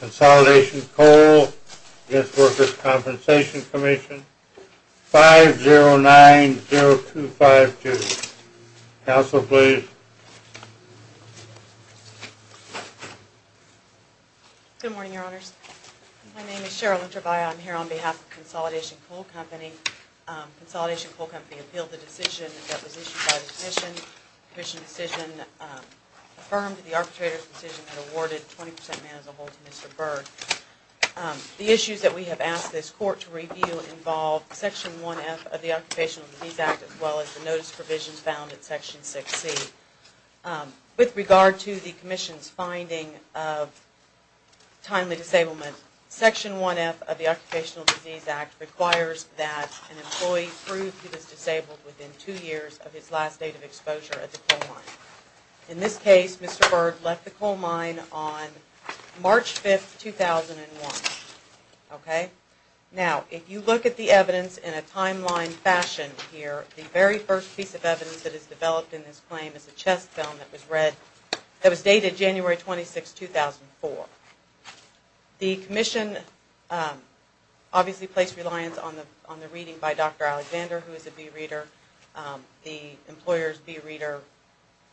Consolidation Coal v. Workers' Compensation Comm'n 5090252 Council, please. Good morning, Your Honors. My name is Cheryl Introvaya. I'm here on behalf of Consolidation Coal Company. Consolidation Coal Company appealed the decision that was issued by the Commission. The Commission decision affirmed the arbitrator's decision that awarded 20% man as a whole to Mr. Berg. The issues that we have asked this Court to review involve Section 1F of the Occupational Disease Act as well as the notice provisions found in Section 6C. With regard to the Commission's finding of timely disablement, Section 1F of the Occupational Disease Act requires that an employee prove he was disabled within two years of his last date of exposure at the coal mine. In this case, Mr. Berg left the coal mine on March 5, 2001. Okay? Now, if you look at the evidence in a timeline fashion here, the very first piece of evidence that is developed in this claim is a chest film that was read, that was dated January 26, 2004. The Commission obviously placed reliance on the reading by Dr. Alexander, who is a bee reader. The employer's bee reader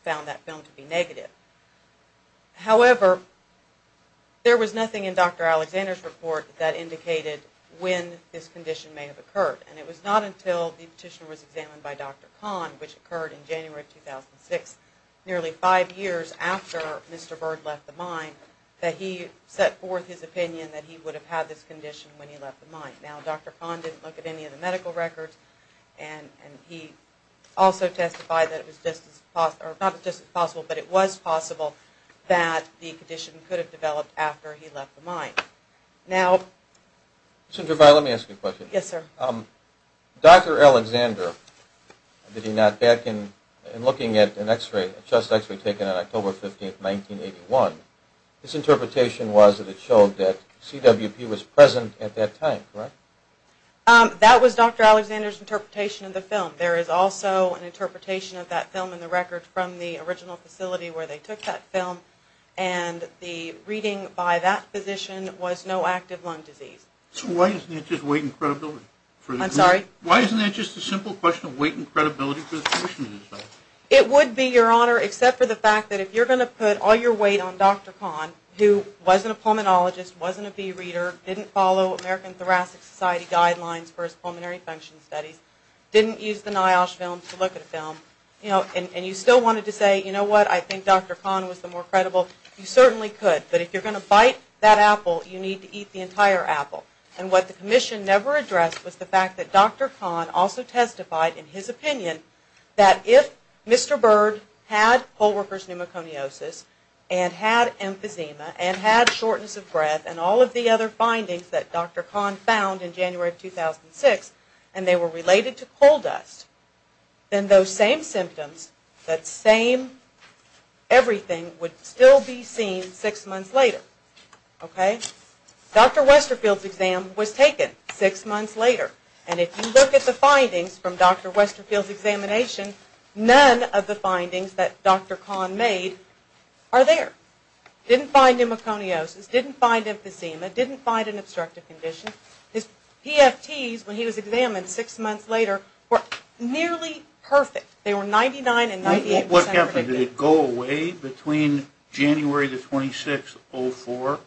found that film to be negative. However, there was nothing in Dr. Alexander's report that indicated when this condition may have occurred. And it was not until the petition was examined by Dr. Kahn, which occurred in January of 2006, nearly five years after Mr. Berg left the mine, that he set forth his opinion that he would have had this condition when he left the mine. Now, Dr. Kahn didn't look at any of the medical records, and he also testified that it was just as possible, or not just as possible, but it was possible that the condition could have developed after he left the mine. Now... Mr. Gervais, let me ask you a question. Yes, sir. Dr. Alexander, did he not, back in looking at an x-ray, a chest x-ray taken on October 15, 1981, his interpretation was that it showed that CWP was present at that time, correct? That was Dr. Alexander's interpretation of the film. There is also an interpretation of that film in the record from the original facility where they took that film, and the reading by that physician was no active lung disease. So why isn't it just weight and credibility? I'm sorry? Why isn't it just a simple question of weight and credibility for the physician himself? It would be, Your Honor, except for the fact that if you're going to put all your weight on Dr. Kahn, who wasn't a pulmonologist, wasn't a bee reader, didn't follow American Thoracic Society guidelines for his pulmonary function studies, didn't use the NIOSH film to look at a film, and you still wanted to say, you know what, I think Dr. Kahn was the more credible, you certainly could, but if you're going to bite that apple, you need to eat the entire apple. And what the commission never addressed was the fact that Dr. Kahn also testified in his opinion that if Mr. Byrd had poll worker's pneumoconiosis and had emphysema and had shortness of breath and all of the other findings that Dr. Kahn found in January of 2006, and they were related to coal dust, then those same symptoms, that same everything would still be seen six months later. Okay? Dr. Westerfield's exam was taken six months later, and if you look at the findings from Dr. Westerfield's examination, none of the findings that Dr. Kahn made are there. Didn't find pneumoconiosis, didn't find emphysema, didn't find an obstructive condition. His PFTs, when he was examined six months later, were nearly perfect. They were 99 and 98 percent. What happened? Did it go away between January the 26th, 2004,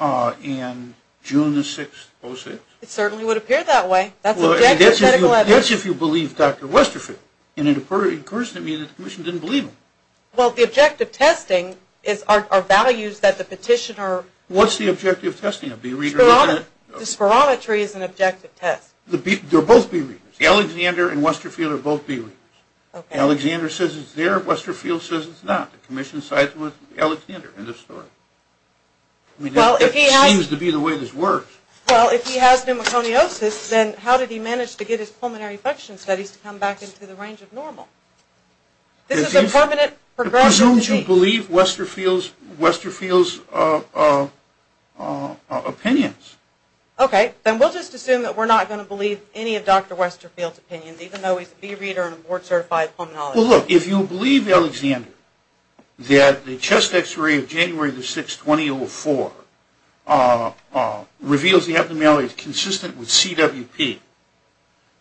and June the 6th, 2006? It certainly would appear that way. That's if you believe Dr. Westerfield. And it occurs to me that the commission didn't believe him. Well, the objective testing are values that the petitioner... What's the objective testing? The spirometry is an objective test. They're both B-readers. Alexander and Westerfield are both B-readers. Okay. Alexander says it's there, Westerfield says it's not. The commission sides with Alexander in this story. It seems to be the way this works. Well, if he has pneumoconiosis, then how did he manage to get his pulmonary infection studies to come back into the range of normal? This is a permanent progression. Why don't you believe Westerfield's opinions? Okay. Then we'll just assume that we're not going to believe any of Dr. Westerfield's opinions, even though he's a B-reader and a board-certified pulmonologist. Well, look, if you believe Alexander that the chest x-ray of January the 6th, 2004, reveals the abnormalities consistent with CWP,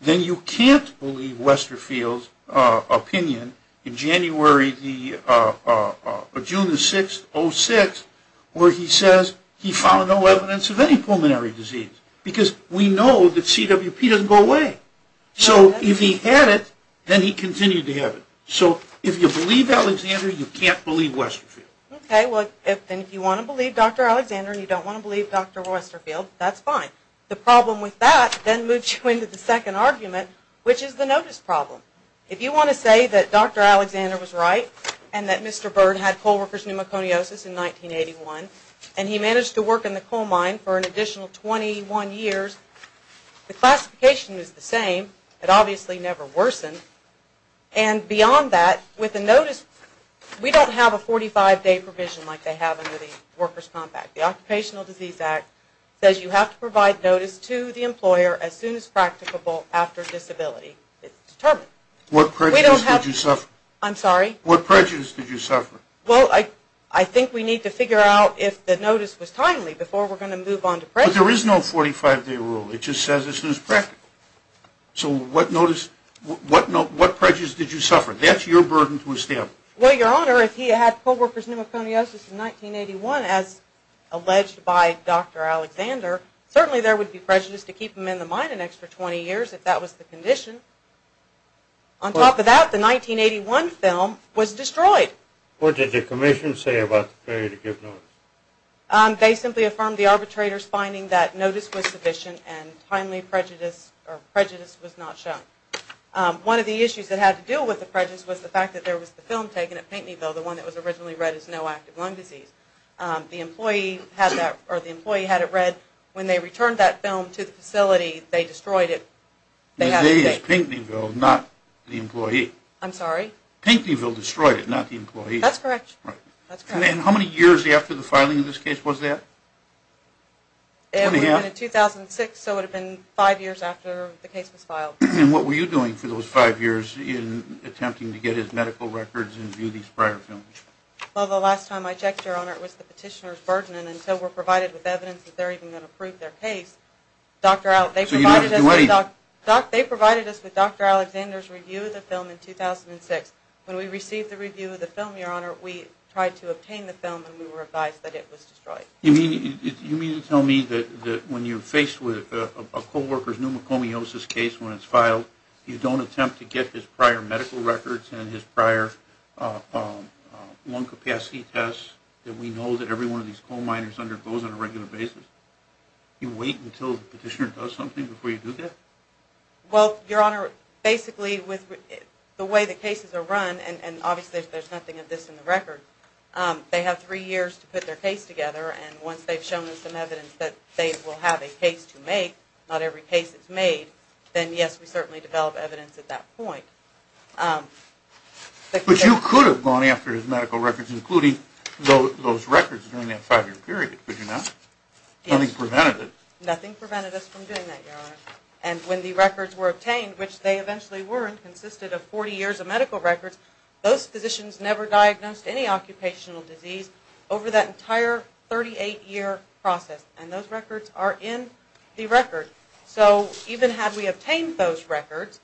then you can't believe Westerfield's opinion in January, June the 6th, 2006, where he says he found no evidence of any pulmonary disease, because we know that CWP doesn't go away. So if he had it, then he continued to have it. So if you believe Alexander, you can't believe Westerfield. Okay, well, then if you want to believe Dr. Alexander and you don't want to believe Dr. Westerfield, that's fine. The problem with that then moves you into the second argument, which is the notice problem. If you want to say that Dr. Alexander was right and that Mr. Byrd had co-workers pneumoconiosis in 1981 and he managed to work in the coal mine for an additional 21 years, the classification is the same. It obviously never worsened. And beyond that, with the notice, we don't have a 45-day provision like they have under the Workers' Compact. The Occupational Disease Act says you have to provide notice to the employer as soon as practicable after disability is determined. What prejudice did you suffer? I'm sorry? What prejudice did you suffer? Well, I think we need to figure out if the notice was timely before we're going to move on to prejudice. But there is no 45-day rule. It just says as soon as practicable. So what prejudice did you suffer? That's your burden to establish. Well, Your Honor, if he had co-workers pneumoconiosis in 1981 as alleged by Dr. Alexander, certainly there would be prejudice to keep him in the mine an extra 20 years if that was the condition. On top of that, the 1981 film was destroyed. What did the Commission say about the failure to give notice? They simply affirmed the arbitrator's finding that notice was sufficient and timely prejudice was not shown. One of the issues that had to do with the prejudice was the fact that there was the film taken at Pinckneyville, the one that was originally read as no active lung disease. The employee had it read. When they returned that film to the facility, they destroyed it. The day is Pinckneyville, not the employee. I'm sorry? Pinckneyville destroyed it, not the employee. That's correct. And how many years after the filing of this case was that? It would have been in 2006, so it would have been five years after the case was filed. And what were you doing for those five years in attempting to get his medical records and view these prior films? Well, the last time I checked, Your Honor, it was the petitioner's burden, and until we're provided with evidence that they're even going to prove their case, they provided us with Dr. Alexander's review of the film in 2006. When we received the review of the film, Your Honor, we tried to obtain the film and we were advised that it was destroyed. You mean to tell me that when you're faced with a co-worker's pneumocomiosis case when it's filed, you don't attempt to get his prior medical records and his prior lung capacity tests that we know that every one of these coal miners undergoes on a regular basis? You wait until the petitioner does something before you do that? Well, Your Honor, basically, the way the cases are run, and obviously there's nothing of this in the record, they have three years to put their case together, and once they've shown us some evidence that they will have a case to make, not every case is made, then yes, we certainly develop evidence at that point. But you could have gone after his medical records, including those records during that five-year period, could you not? Yes. Nothing prevented it. Nothing prevented us from doing that, Your Honor. And when the records were obtained, which they eventually were, and consisted of 40 years of medical records, those physicians never diagnosed any occupational disease over that entire 38-year process, and those records are in the record. So even had we obtained those records,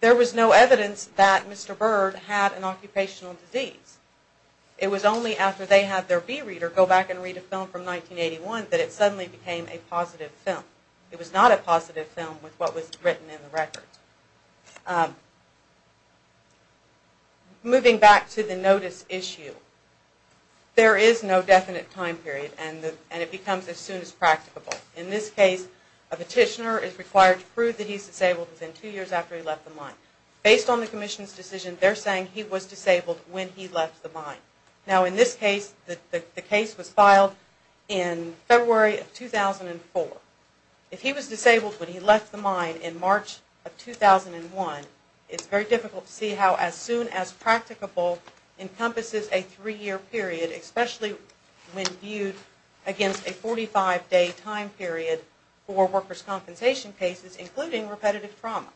there was no evidence that Mr. Byrd had an occupational disease. It was only after they had their B-reader go back and read a film from 1981 that it suddenly became a positive film. It was not a positive film with what was written in the records. Moving back to the notice issue, there is no definite time period, and it becomes as soon as practicable. In this case, a petitioner is required to prove that he's disabled within two years after he left the mine. Based on the commission's decision, they're saying he was disabled when he left the mine. Now in this case, the case was filed in February of 2004. If he was disabled when he left the mine in March of 2001, it's very difficult to see how as soon as practicable encompasses a three-year period, especially when viewed against a 45-day time period for workers' compensation cases, including repetitive trauma.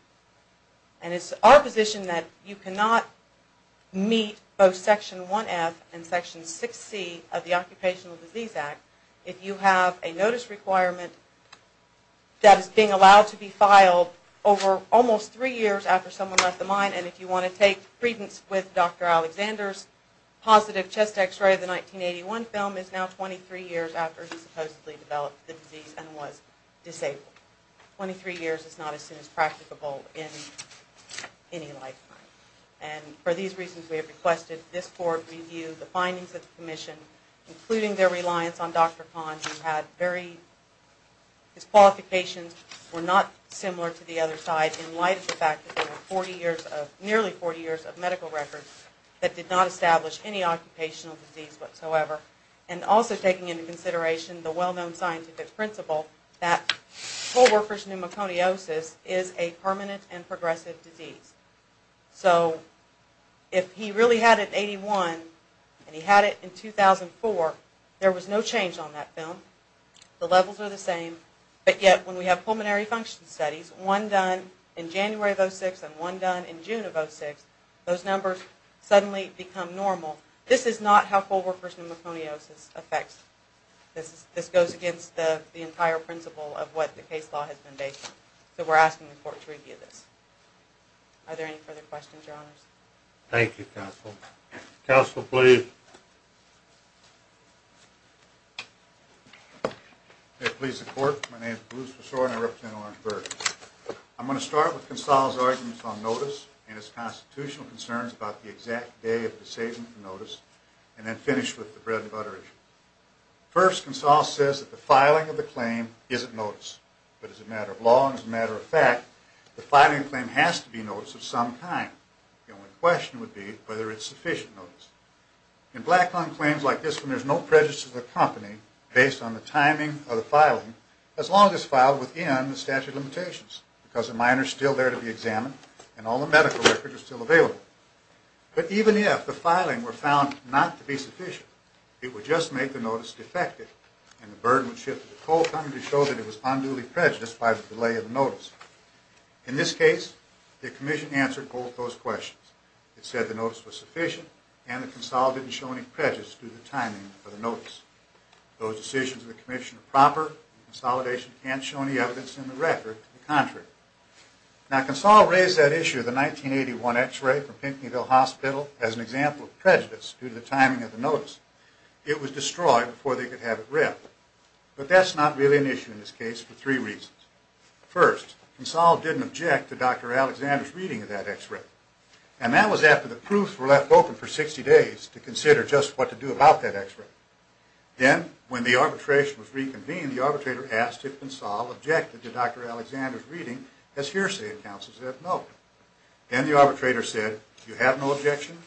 It's our position that you cannot meet both Section 1F and Section 6C of the Occupational Disease Act if you have a notice requirement that is being allowed to be filed over almost three years after someone left the mine, and if you want to take credence with Dr. Alexander's positive chest x-ray of the 1981 film, it's now 23 years after he supposedly developed the disease and was disabled. Twenty-three years is not as soon as practicable in any lifetime. And for these reasons, we have requested this board review the findings of the commission, including their reliance on Dr. Kahn, whose qualifications were not similar to the other side in light of the fact that there were nearly 40 years of medical records that did not establish any occupational disease whatsoever, and also taking into consideration the well-known scientific principle that co-workers' pneumoconiosis is a permanent and progressive disease. So if he really had it in 1981 and he had it in 2004, there was no change on that film. The levels are the same, but yet when we have pulmonary function studies, one done in January of 2006 and one done in June of 2006, those numbers suddenly become normal. This is not how co-workers' pneumoconiosis affects. This goes against the entire principle of what the case law has been based on. So we're asking the court to review this. Are there any further questions, Your Honors? Thank you, Counsel. Counsel, please. If it pleases the court, my name is Bruce Besore, and I represent Orangeburg. I'm going to start with Consall's arguments on notice and his constitutional concerns about the exact day of disabling notice, and then finish with the bread and butter issue. First, Consall says that the filing of the claim isn't notice, but is a matter of law and is a matter of fact. The filing claim has to be notice of some kind. The only question would be whether it's sufficient notice. In Blackhound claims like this one, there's no prejudice to the company based on the timing of the filing, as long as it's filed within the statute of limitations, because the minor is still there to be examined and all the medical records are still available. But even if the filing were found not to be sufficient, it would just make the notice defective, and the burden would shift to the coal company to show that it was unduly prejudiced by the delay of the notice. In this case, the Commission answered both those questions. It said the notice was sufficient, and that Consall didn't show any prejudice due to the timing of the notice. Those decisions of the Commission are proper, and the consolidation can't show any evidence in the record to the contrary. Now, Consall raised that issue of the 1981 x-ray from Pinckneyville Hospital as an example of prejudice due to the timing of the notice. It was destroyed before they could have it read. But that's not really an issue in this case for three reasons. First, Consall didn't object to Dr. Alexander's reading of that x-ray, and that was after the proofs were left open for 60 days to consider just what to do about that x-ray. Then, when the arbitration was reconvened, the arbitrator asked if Consall objected to Dr. Alexander's reading as hearsay, and counsel said no. Then the arbitrator said, you have no objection?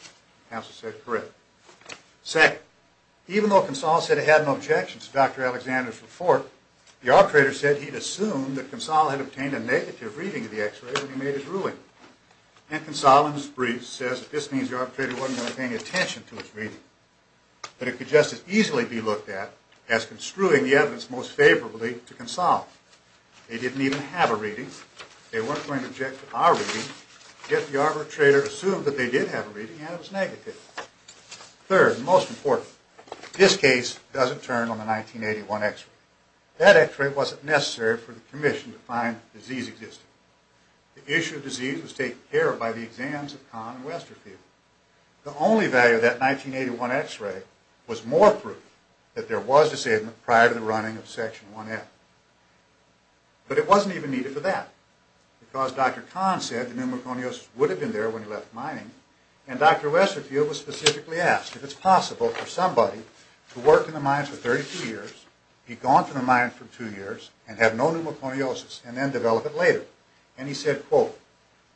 Counsel said, correct. Second, even though Consall said he had no objections to Dr. Alexander's report, the arbitrator said he'd assumed that Consall had obtained a negative reading of the x-ray when he made his ruling. And Consall, in his briefs, says that this means the arbitrator wasn't going to pay any attention to his reading, but it could just as easily be looked at as construing the evidence most favorably to Consall. They didn't even have a reading. They weren't going to object to our reading. Yet the arbitrator assumed that they did have a reading, and it was negative. Third, and most important, this case doesn't turn on the 1981 x-ray. That x-ray wasn't necessary for the commission to find the disease existing. The issue of disease was taken care of by the exams of Kahn and Westerfield. The only value of that 1981 x-ray was more proof that there was this ailment prior to the running of Section 1F. But it wasn't even needed for that, because Dr. Kahn said the pneumoconiosis would have been there when he left mining, and Dr. Westerfield was specifically asked if it's possible for somebody to work in the mines for 32 years, be gone from the mines for two years, and have no pneumoconiosis, and then develop it later. And he said, quote,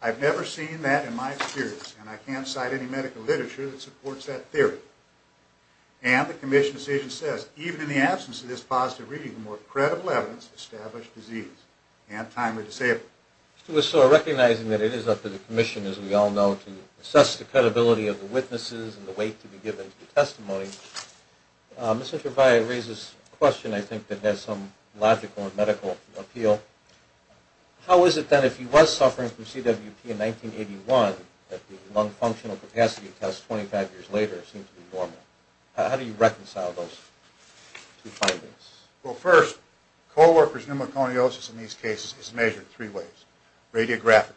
I've never seen that in my experience, and I can't cite any medical literature that supports that theory. And the commission's decision says, even in the absence of this positive reading, established disease and timely disabling. So recognizing that it is up to the commission, as we all know, to assess the credibility of the witnesses and the weight to be given to the testimony, Mr. Trevaya raises a question, I think, that has some logical and medical appeal. How is it, then, if he was suffering from CWP in 1981, that the lung functional capacity test 25 years later seems to be normal? How do you reconcile those two findings? Well, first, co-worker's pneumoconiosis in these cases is measured three ways. Radiographically,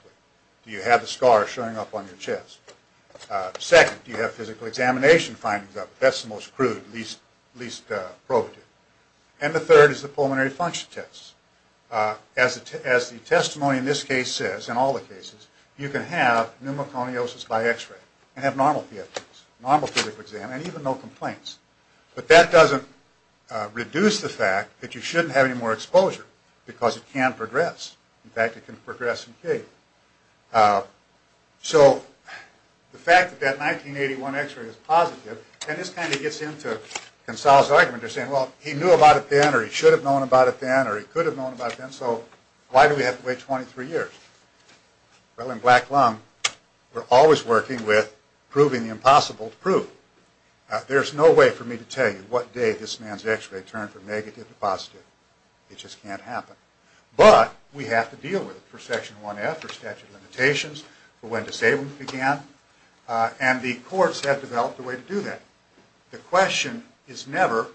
do you have the scar showing up on your chest? Second, do you have physical examination findings of it? That's the most crude, least probative. And the third is the pulmonary function test. As the testimony in this case says, in all the cases, you can have pneumoconiosis by x-ray and have normal PFTs, normal physical exam, and even no complaints. But that doesn't reduce the fact that you shouldn't have any more exposure, because it can progress. In fact, it can progress in pain. So the fact that that 1981 x-ray is positive, and this kind of gets into Goncalo's argument, they're saying, well, he knew about it then, or he should have known about it then, or he could have known about it then, so why do we have to wait 23 years? Well, in black lung, we're always working with proving the impossible to prove. There's no way for me to tell you what day this man's x-ray turned from negative to positive. It just can't happen. But we have to deal with it for Section 1F, for statute of limitations, for when disablement began. And the courts have developed a way to do that. The question is never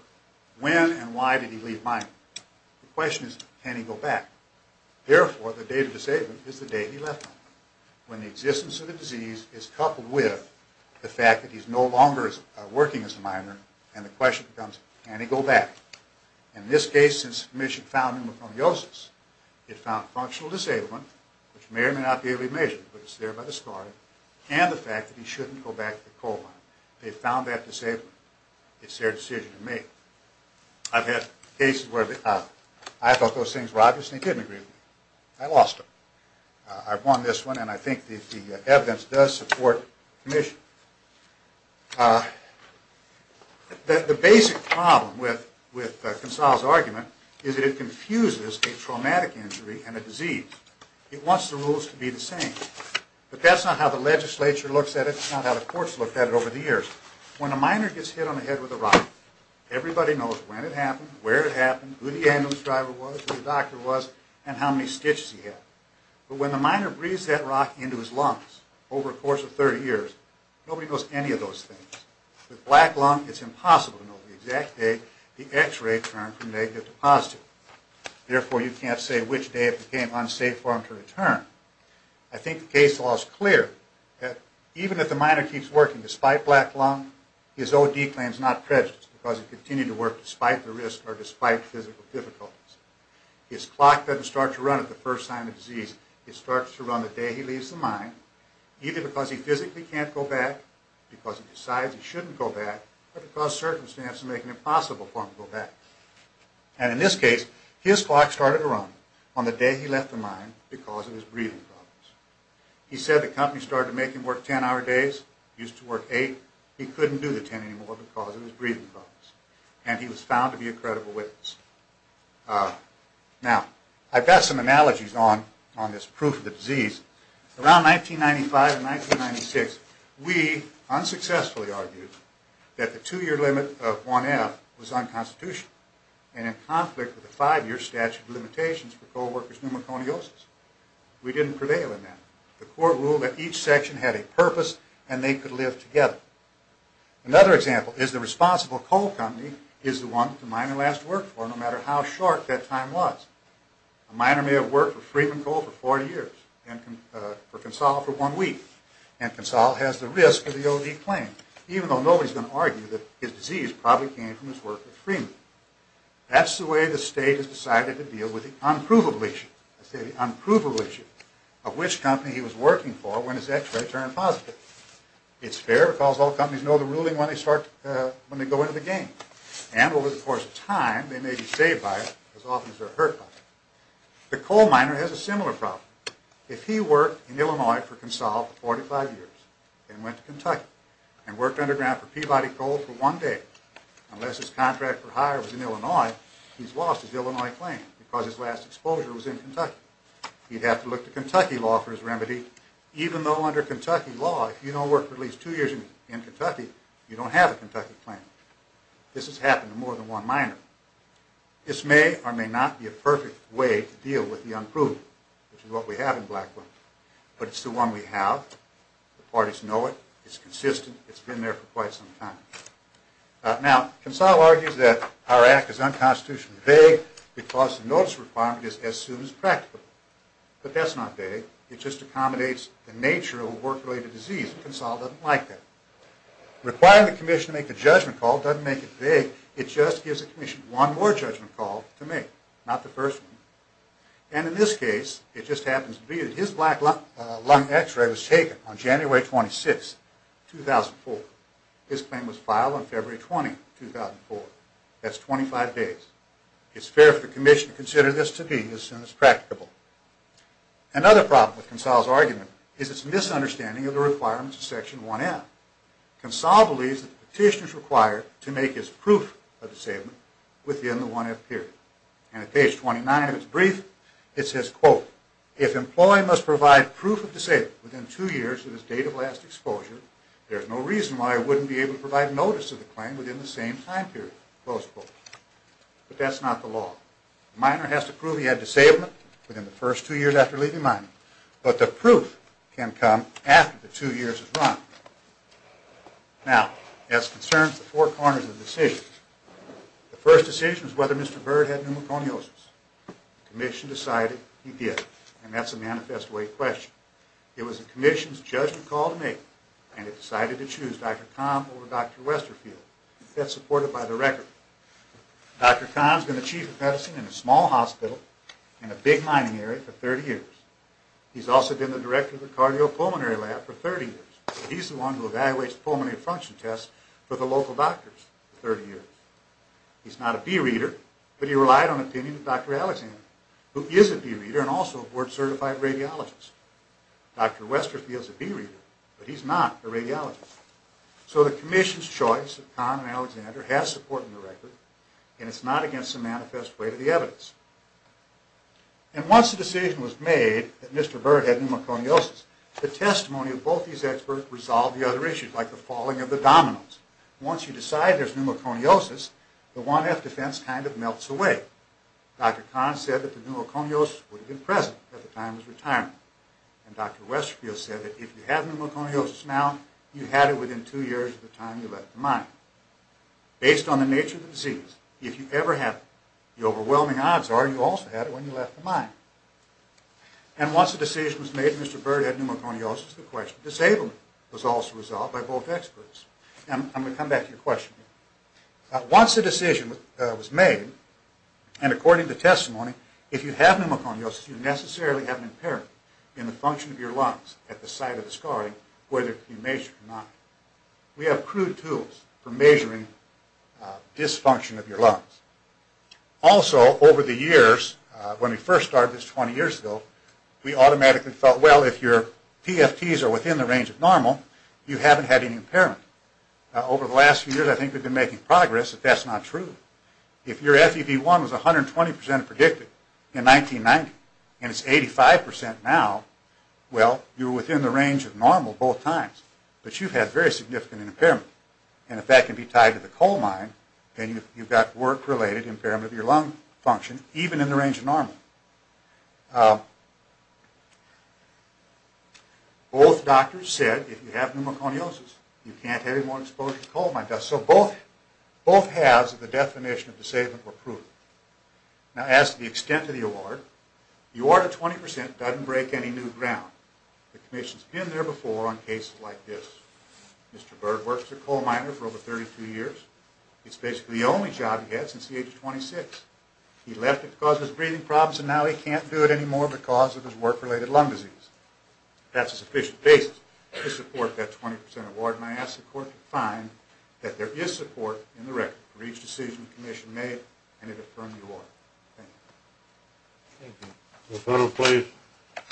when and why did he leave Miami. The question is, can he go back? Therefore, the date of disablement is the date he left home, when the existence of the disease is coupled with the fact that he's no longer working as a minor, and the question becomes, can he go back? In this case, since the Commission found him with homeosis, it found functional disablement, which may or may not be able to be measured, but it's thereby discarded, and the fact that he shouldn't go back to the coal mine. They found that disablement. It's their decision to make. I've had cases where I thought those things were obvious, and they didn't agree with me. I lost them. I've won this one, and I think the evidence does support the Commission. The basic problem with Gonzalo's argument is that it confuses a traumatic injury and a disease. It wants the rules to be the same. But that's not how the legislature looks at it. It's not how the courts looked at it over the years. When a minor gets hit on the head with a rock, everybody knows when it happened, where it happened, who the ambulance driver was, who the doctor was, and how many stitches he had. But when the minor breathes that rock into his lungs over a course of 30 years, nobody knows any of those things. With black lung, it's impossible to know the exact date the X-ray turned from negative to positive. Therefore, you can't say which day it became unsafe for him to return. I think the case law is clear that even if the minor keeps working despite black lung, his O.D. claim is not prejudiced because he continued to work despite the risk or despite physical difficulties. His clock doesn't start to run at the first sign of disease. It starts to run the day he leaves the mine, either because he physically can't go back, because he decides he shouldn't go back, or because circumstances make it impossible for him to go back. And in this case, his clock started to run on the day he left the mine because of his breathing problems. He said the company started to make him work 10-hour days. He used to work 8. He couldn't do the 10 anymore because of his breathing problems. And he was found to be a credible witness. Now, I've got some analogies on this proof of the disease. Around 1995 and 1996, we unsuccessfully argued that the 2-year limit of 1F was unconstitutional and in conflict with the 5-year statute of limitations for co-workers' pneumoconiosis. We didn't prevail in that. The court ruled that each section had a purpose and they could live together. Another example is the responsible coal company is the one the miner has to work for, no matter how short that time was. A miner may have worked for Freeman Coal for 40 years, for Consol for one week, and Consol has the risk of the O.D. claim, even though nobody's going to argue that his disease probably came from his work with Freeman. That's the way the state has decided to deal with the unprovable issue, I say the unprovable issue, of which company he was working for when his x-ray turned positive. It's fair because all companies know the ruling when they go into the game. And over the course of time, they may be saved by it as often as they're hurt by it. The coal miner has a similar problem. If he worked in Illinois for Consol for 45 years and went to Kentucky and worked underground for Peabody Coal for one day, unless his contract for hire was in Illinois, he's lost his Illinois claim because his last exposure was in Kentucky. He'd have to look to Kentucky law for his remedy, even though under Kentucky law, if you don't work for at least two years in Kentucky, you don't have a Kentucky claim. This has happened to more than one miner. This may or may not be a perfect way to deal with the unproven, which is what we have in Blackwood. But it's the one we have. The parties know it. It's consistent. It's been there for quite some time. Now, Consol argues that our act is unconstitutionally vague because the notice requirement is as soon as practicable. But that's not vague. It just accommodates the nature of a work-related disease. Consol doesn't like that. Requiring the commission to make a judgment call doesn't make it vague. It just gives the commission one more judgment call to make, not the first one. And in this case, it just happens to be that his black lung x-ray was taken on January 26, 2004. His claim was filed on February 20, 2004. That's 25 days. It's fair for the commission to consider this to be as soon as practicable. Another problem with Consol's argument is its misunderstanding of the requirements of Section 1F. Consol believes that the petition is required to make his proof of disabled within the 1F period. And at page 29 of his brief, it says, quote, If an employee must provide proof of disabled within two years of his date of last exposure, there is no reason why I wouldn't be able to provide notice of the claim within the same time period, close quote. But that's not the law. The minor has to prove he had disablement within the first two years after leaving mining. But the proof can come after the two years has run. Now, as concerns the four corners of decisions, the first decision is whether Mr. Bird had pneumoconiosis. The commission decided he did. And that's a manifest way question. It was a commission's judgment call to make, and it decided to choose Dr. Kahn over Dr. Westerfield. That's supported by the record. Dr. Kahn's been the chief of medicine in a small hospital in a big mining area for 30 years. He's also been the director of the cardiopulmonary lab for 30 years. He's the one who evaluates pulmonary function tests for the local doctors for 30 years. He's not a bee reader, but he relied on opinion of Dr. Alexander, who is a bee reader and also a board-certified radiologist. Dr. Westerfield's a bee reader, but he's not a radiologist. So the commission's choice of Kahn and Alexander has support in the record, and it's not against the manifest way to the evidence. And once the decision was made that Mr. Bird had pneumoconiosis, the testimony of both these experts resolved the other issues, like the falling of the dominoes. Once you decide there's pneumoconiosis, the 1F defense kind of melts away. Dr. Kahn said that the pneumoconiosis would have been present at the time of his retirement, and Dr. Westerfield said that if you have pneumoconiosis now, you had it within two years of the time you left the mine. Based on the nature of the disease, if you ever have it, the overwhelming odds are you also had it when you left the mine. And once the decision was made that Mr. Bird had pneumoconiosis, the question of disability was also resolved by both experts. And I'm going to come back to your question. Once the decision was made, and according to the testimony, if you have pneumoconiosis, you necessarily have an impairment in the function of your lungs at the site of the scarring, whether you measure it or not. We have crude tools for measuring dysfunction of your lungs. Also, over the years, when we first started this 20 years ago, we automatically felt, well, if your PFTs are within the range of normal, you haven't had any impairment. Over the last few years, I think we've been making progress, but that's not true. If your FEV1 was 120% predicted in 1990, and it's 85% now, well, you're within the range of normal both times. But you've had very significant impairment. And if that can be tied to the coal mine, then you've got work-related impairment of your lung function, even in the range of normal. Both doctors said, if you have pneumoconiosis, you can't have any more exposure to coal mine dust. So both halves of the definition of disabling were proven. Now, as to the extent of the award, the award of 20% doesn't break any new ground. The Commission's been there before on cases like this. Mr. Bird worked at a coal miner for over 32 years. It's basically the only job he had since the age of 26. He left it because of his breathing problems, and now he can't do it anymore because of his work-related lung disease. That's a sufficient basis to support that 20% award, and I ask the Court to find that there is support in the record for each decision the Commission made, and it affirmed the award. Thank you. Thank you. No further questions? Thank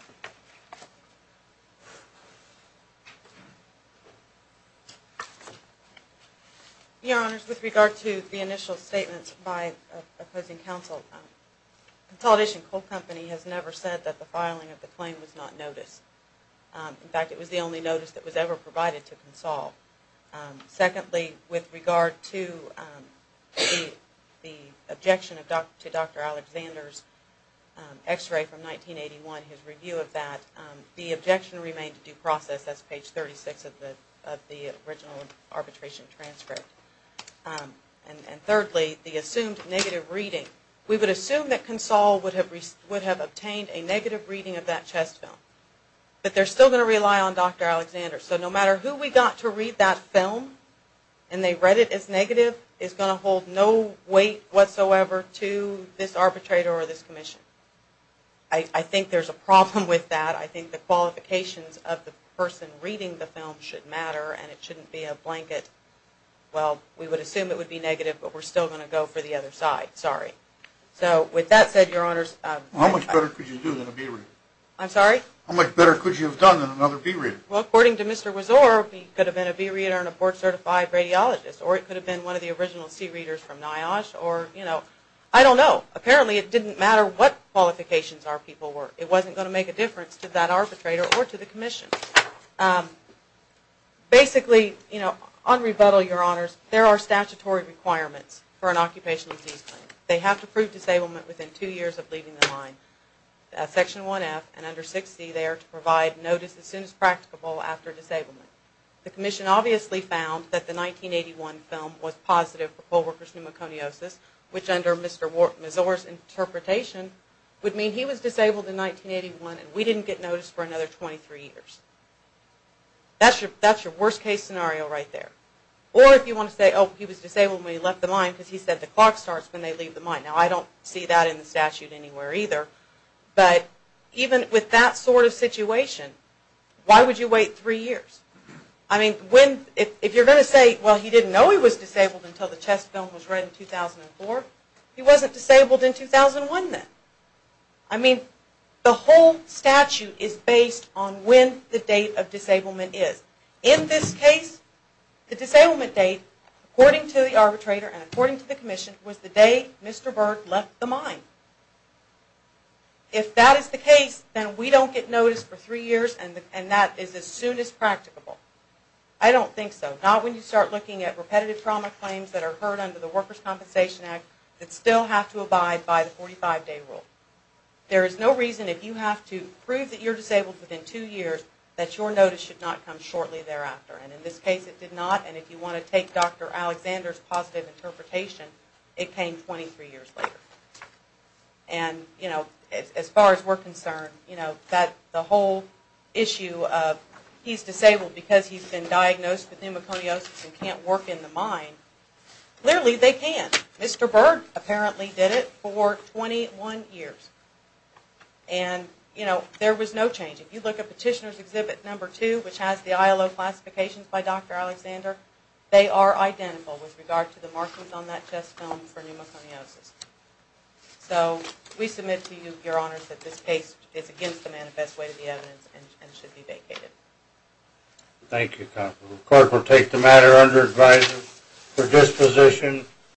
you. Your Honors, with regard to the initial statements by opposing counsel, Consolidation Coal Company has never said that the filing of the claim was not noticed. In fact, it was the only notice that was ever provided to Consol. Secondly, with regard to the objection to Dr. Alexander's x-ray from 1981, his review of that, the objection remained to due process. That's page 36 of the original arbitration transcript. And thirdly, the assumed negative reading. We would assume that Consol would have obtained a negative reading of that chest film, but they're still going to rely on Dr. Alexander. So no matter who we got to read that film, and they read it as negative, it's going to hold no weight whatsoever to this arbitrator or this Commission. I think there's a problem with that. I think the qualifications of the person reading the film should matter, and it shouldn't be a blanket, well, we would assume it would be negative, but we're still going to go for the other side. Sorry. So with that said, Your Honors, How much better could you do than a B-reader? I'm sorry? How much better could you have done than another B-reader? Well, according to Mr. Wazor, he could have been a B-reader and a board-certified radiologist, or it could have been one of the original C-readers from NIOSH, or, you know, I don't know. Apparently, it didn't matter what qualifications our people were. It wasn't going to make a difference to that arbitrator or to the Commission. Basically, you know, on rebuttal, Your Honors, there are statutory requirements for an occupational disease claim. They have to prove disablement within two years of leaving the line. Section 1F and under 6C there to provide notice as soon as practicable after disablement. The Commission obviously found that the 1981 film was positive for poll worker's pneumoconiosis, which under Mr. Wazor's interpretation would mean he was disabled in 1981 and we didn't get notice for another 23 years. That's your worst-case scenario right there. Or if you want to say, oh, he was disabled when he left the line because he said the clock starts when they leave the line. Now, I don't see that in the statute anywhere either. But even with that sort of situation, why would you wait three years? I mean, if you're going to say, well, he didn't know he was disabled until the chest film was read in 2004, he wasn't disabled in 2001 then. I mean, the whole statute is based on when the date of disablement is. In this case, the disablement date, according to the arbitrator and according to the Commission, was the day Mr. Burke left the mine. If that is the case, then we don't get notice for three years and that is as soon as practicable. I don't think so. Not when you start looking at repetitive trauma claims that are heard under the Workers' Compensation Act that still have to abide by the 45-day rule. There is no reason if you have to prove that you're disabled within two years that your notice should not come shortly thereafter. And in this case, it did not. And if you want to take Dr. Alexander's positive interpretation, it came 23 years later. And, you know, as far as we're concerned, you know, the whole issue of he's disabled because he's been diagnosed with pneumoconiosis and can't work in the mine, clearly they can. Mr. Burke apparently did it for 21 years. And, you know, there was no change. If you look at Petitioner's Exhibit No. 2, which has the ILO classifications by Dr. Alexander, they are identical with regard to the markings on that chest film for pneumoconiosis. So we submit to you, Your Honors, that this case is against the manifest way to the evidence and should be vacated. Thank you, Counselor. The Court will take the matter under advisory for disposition.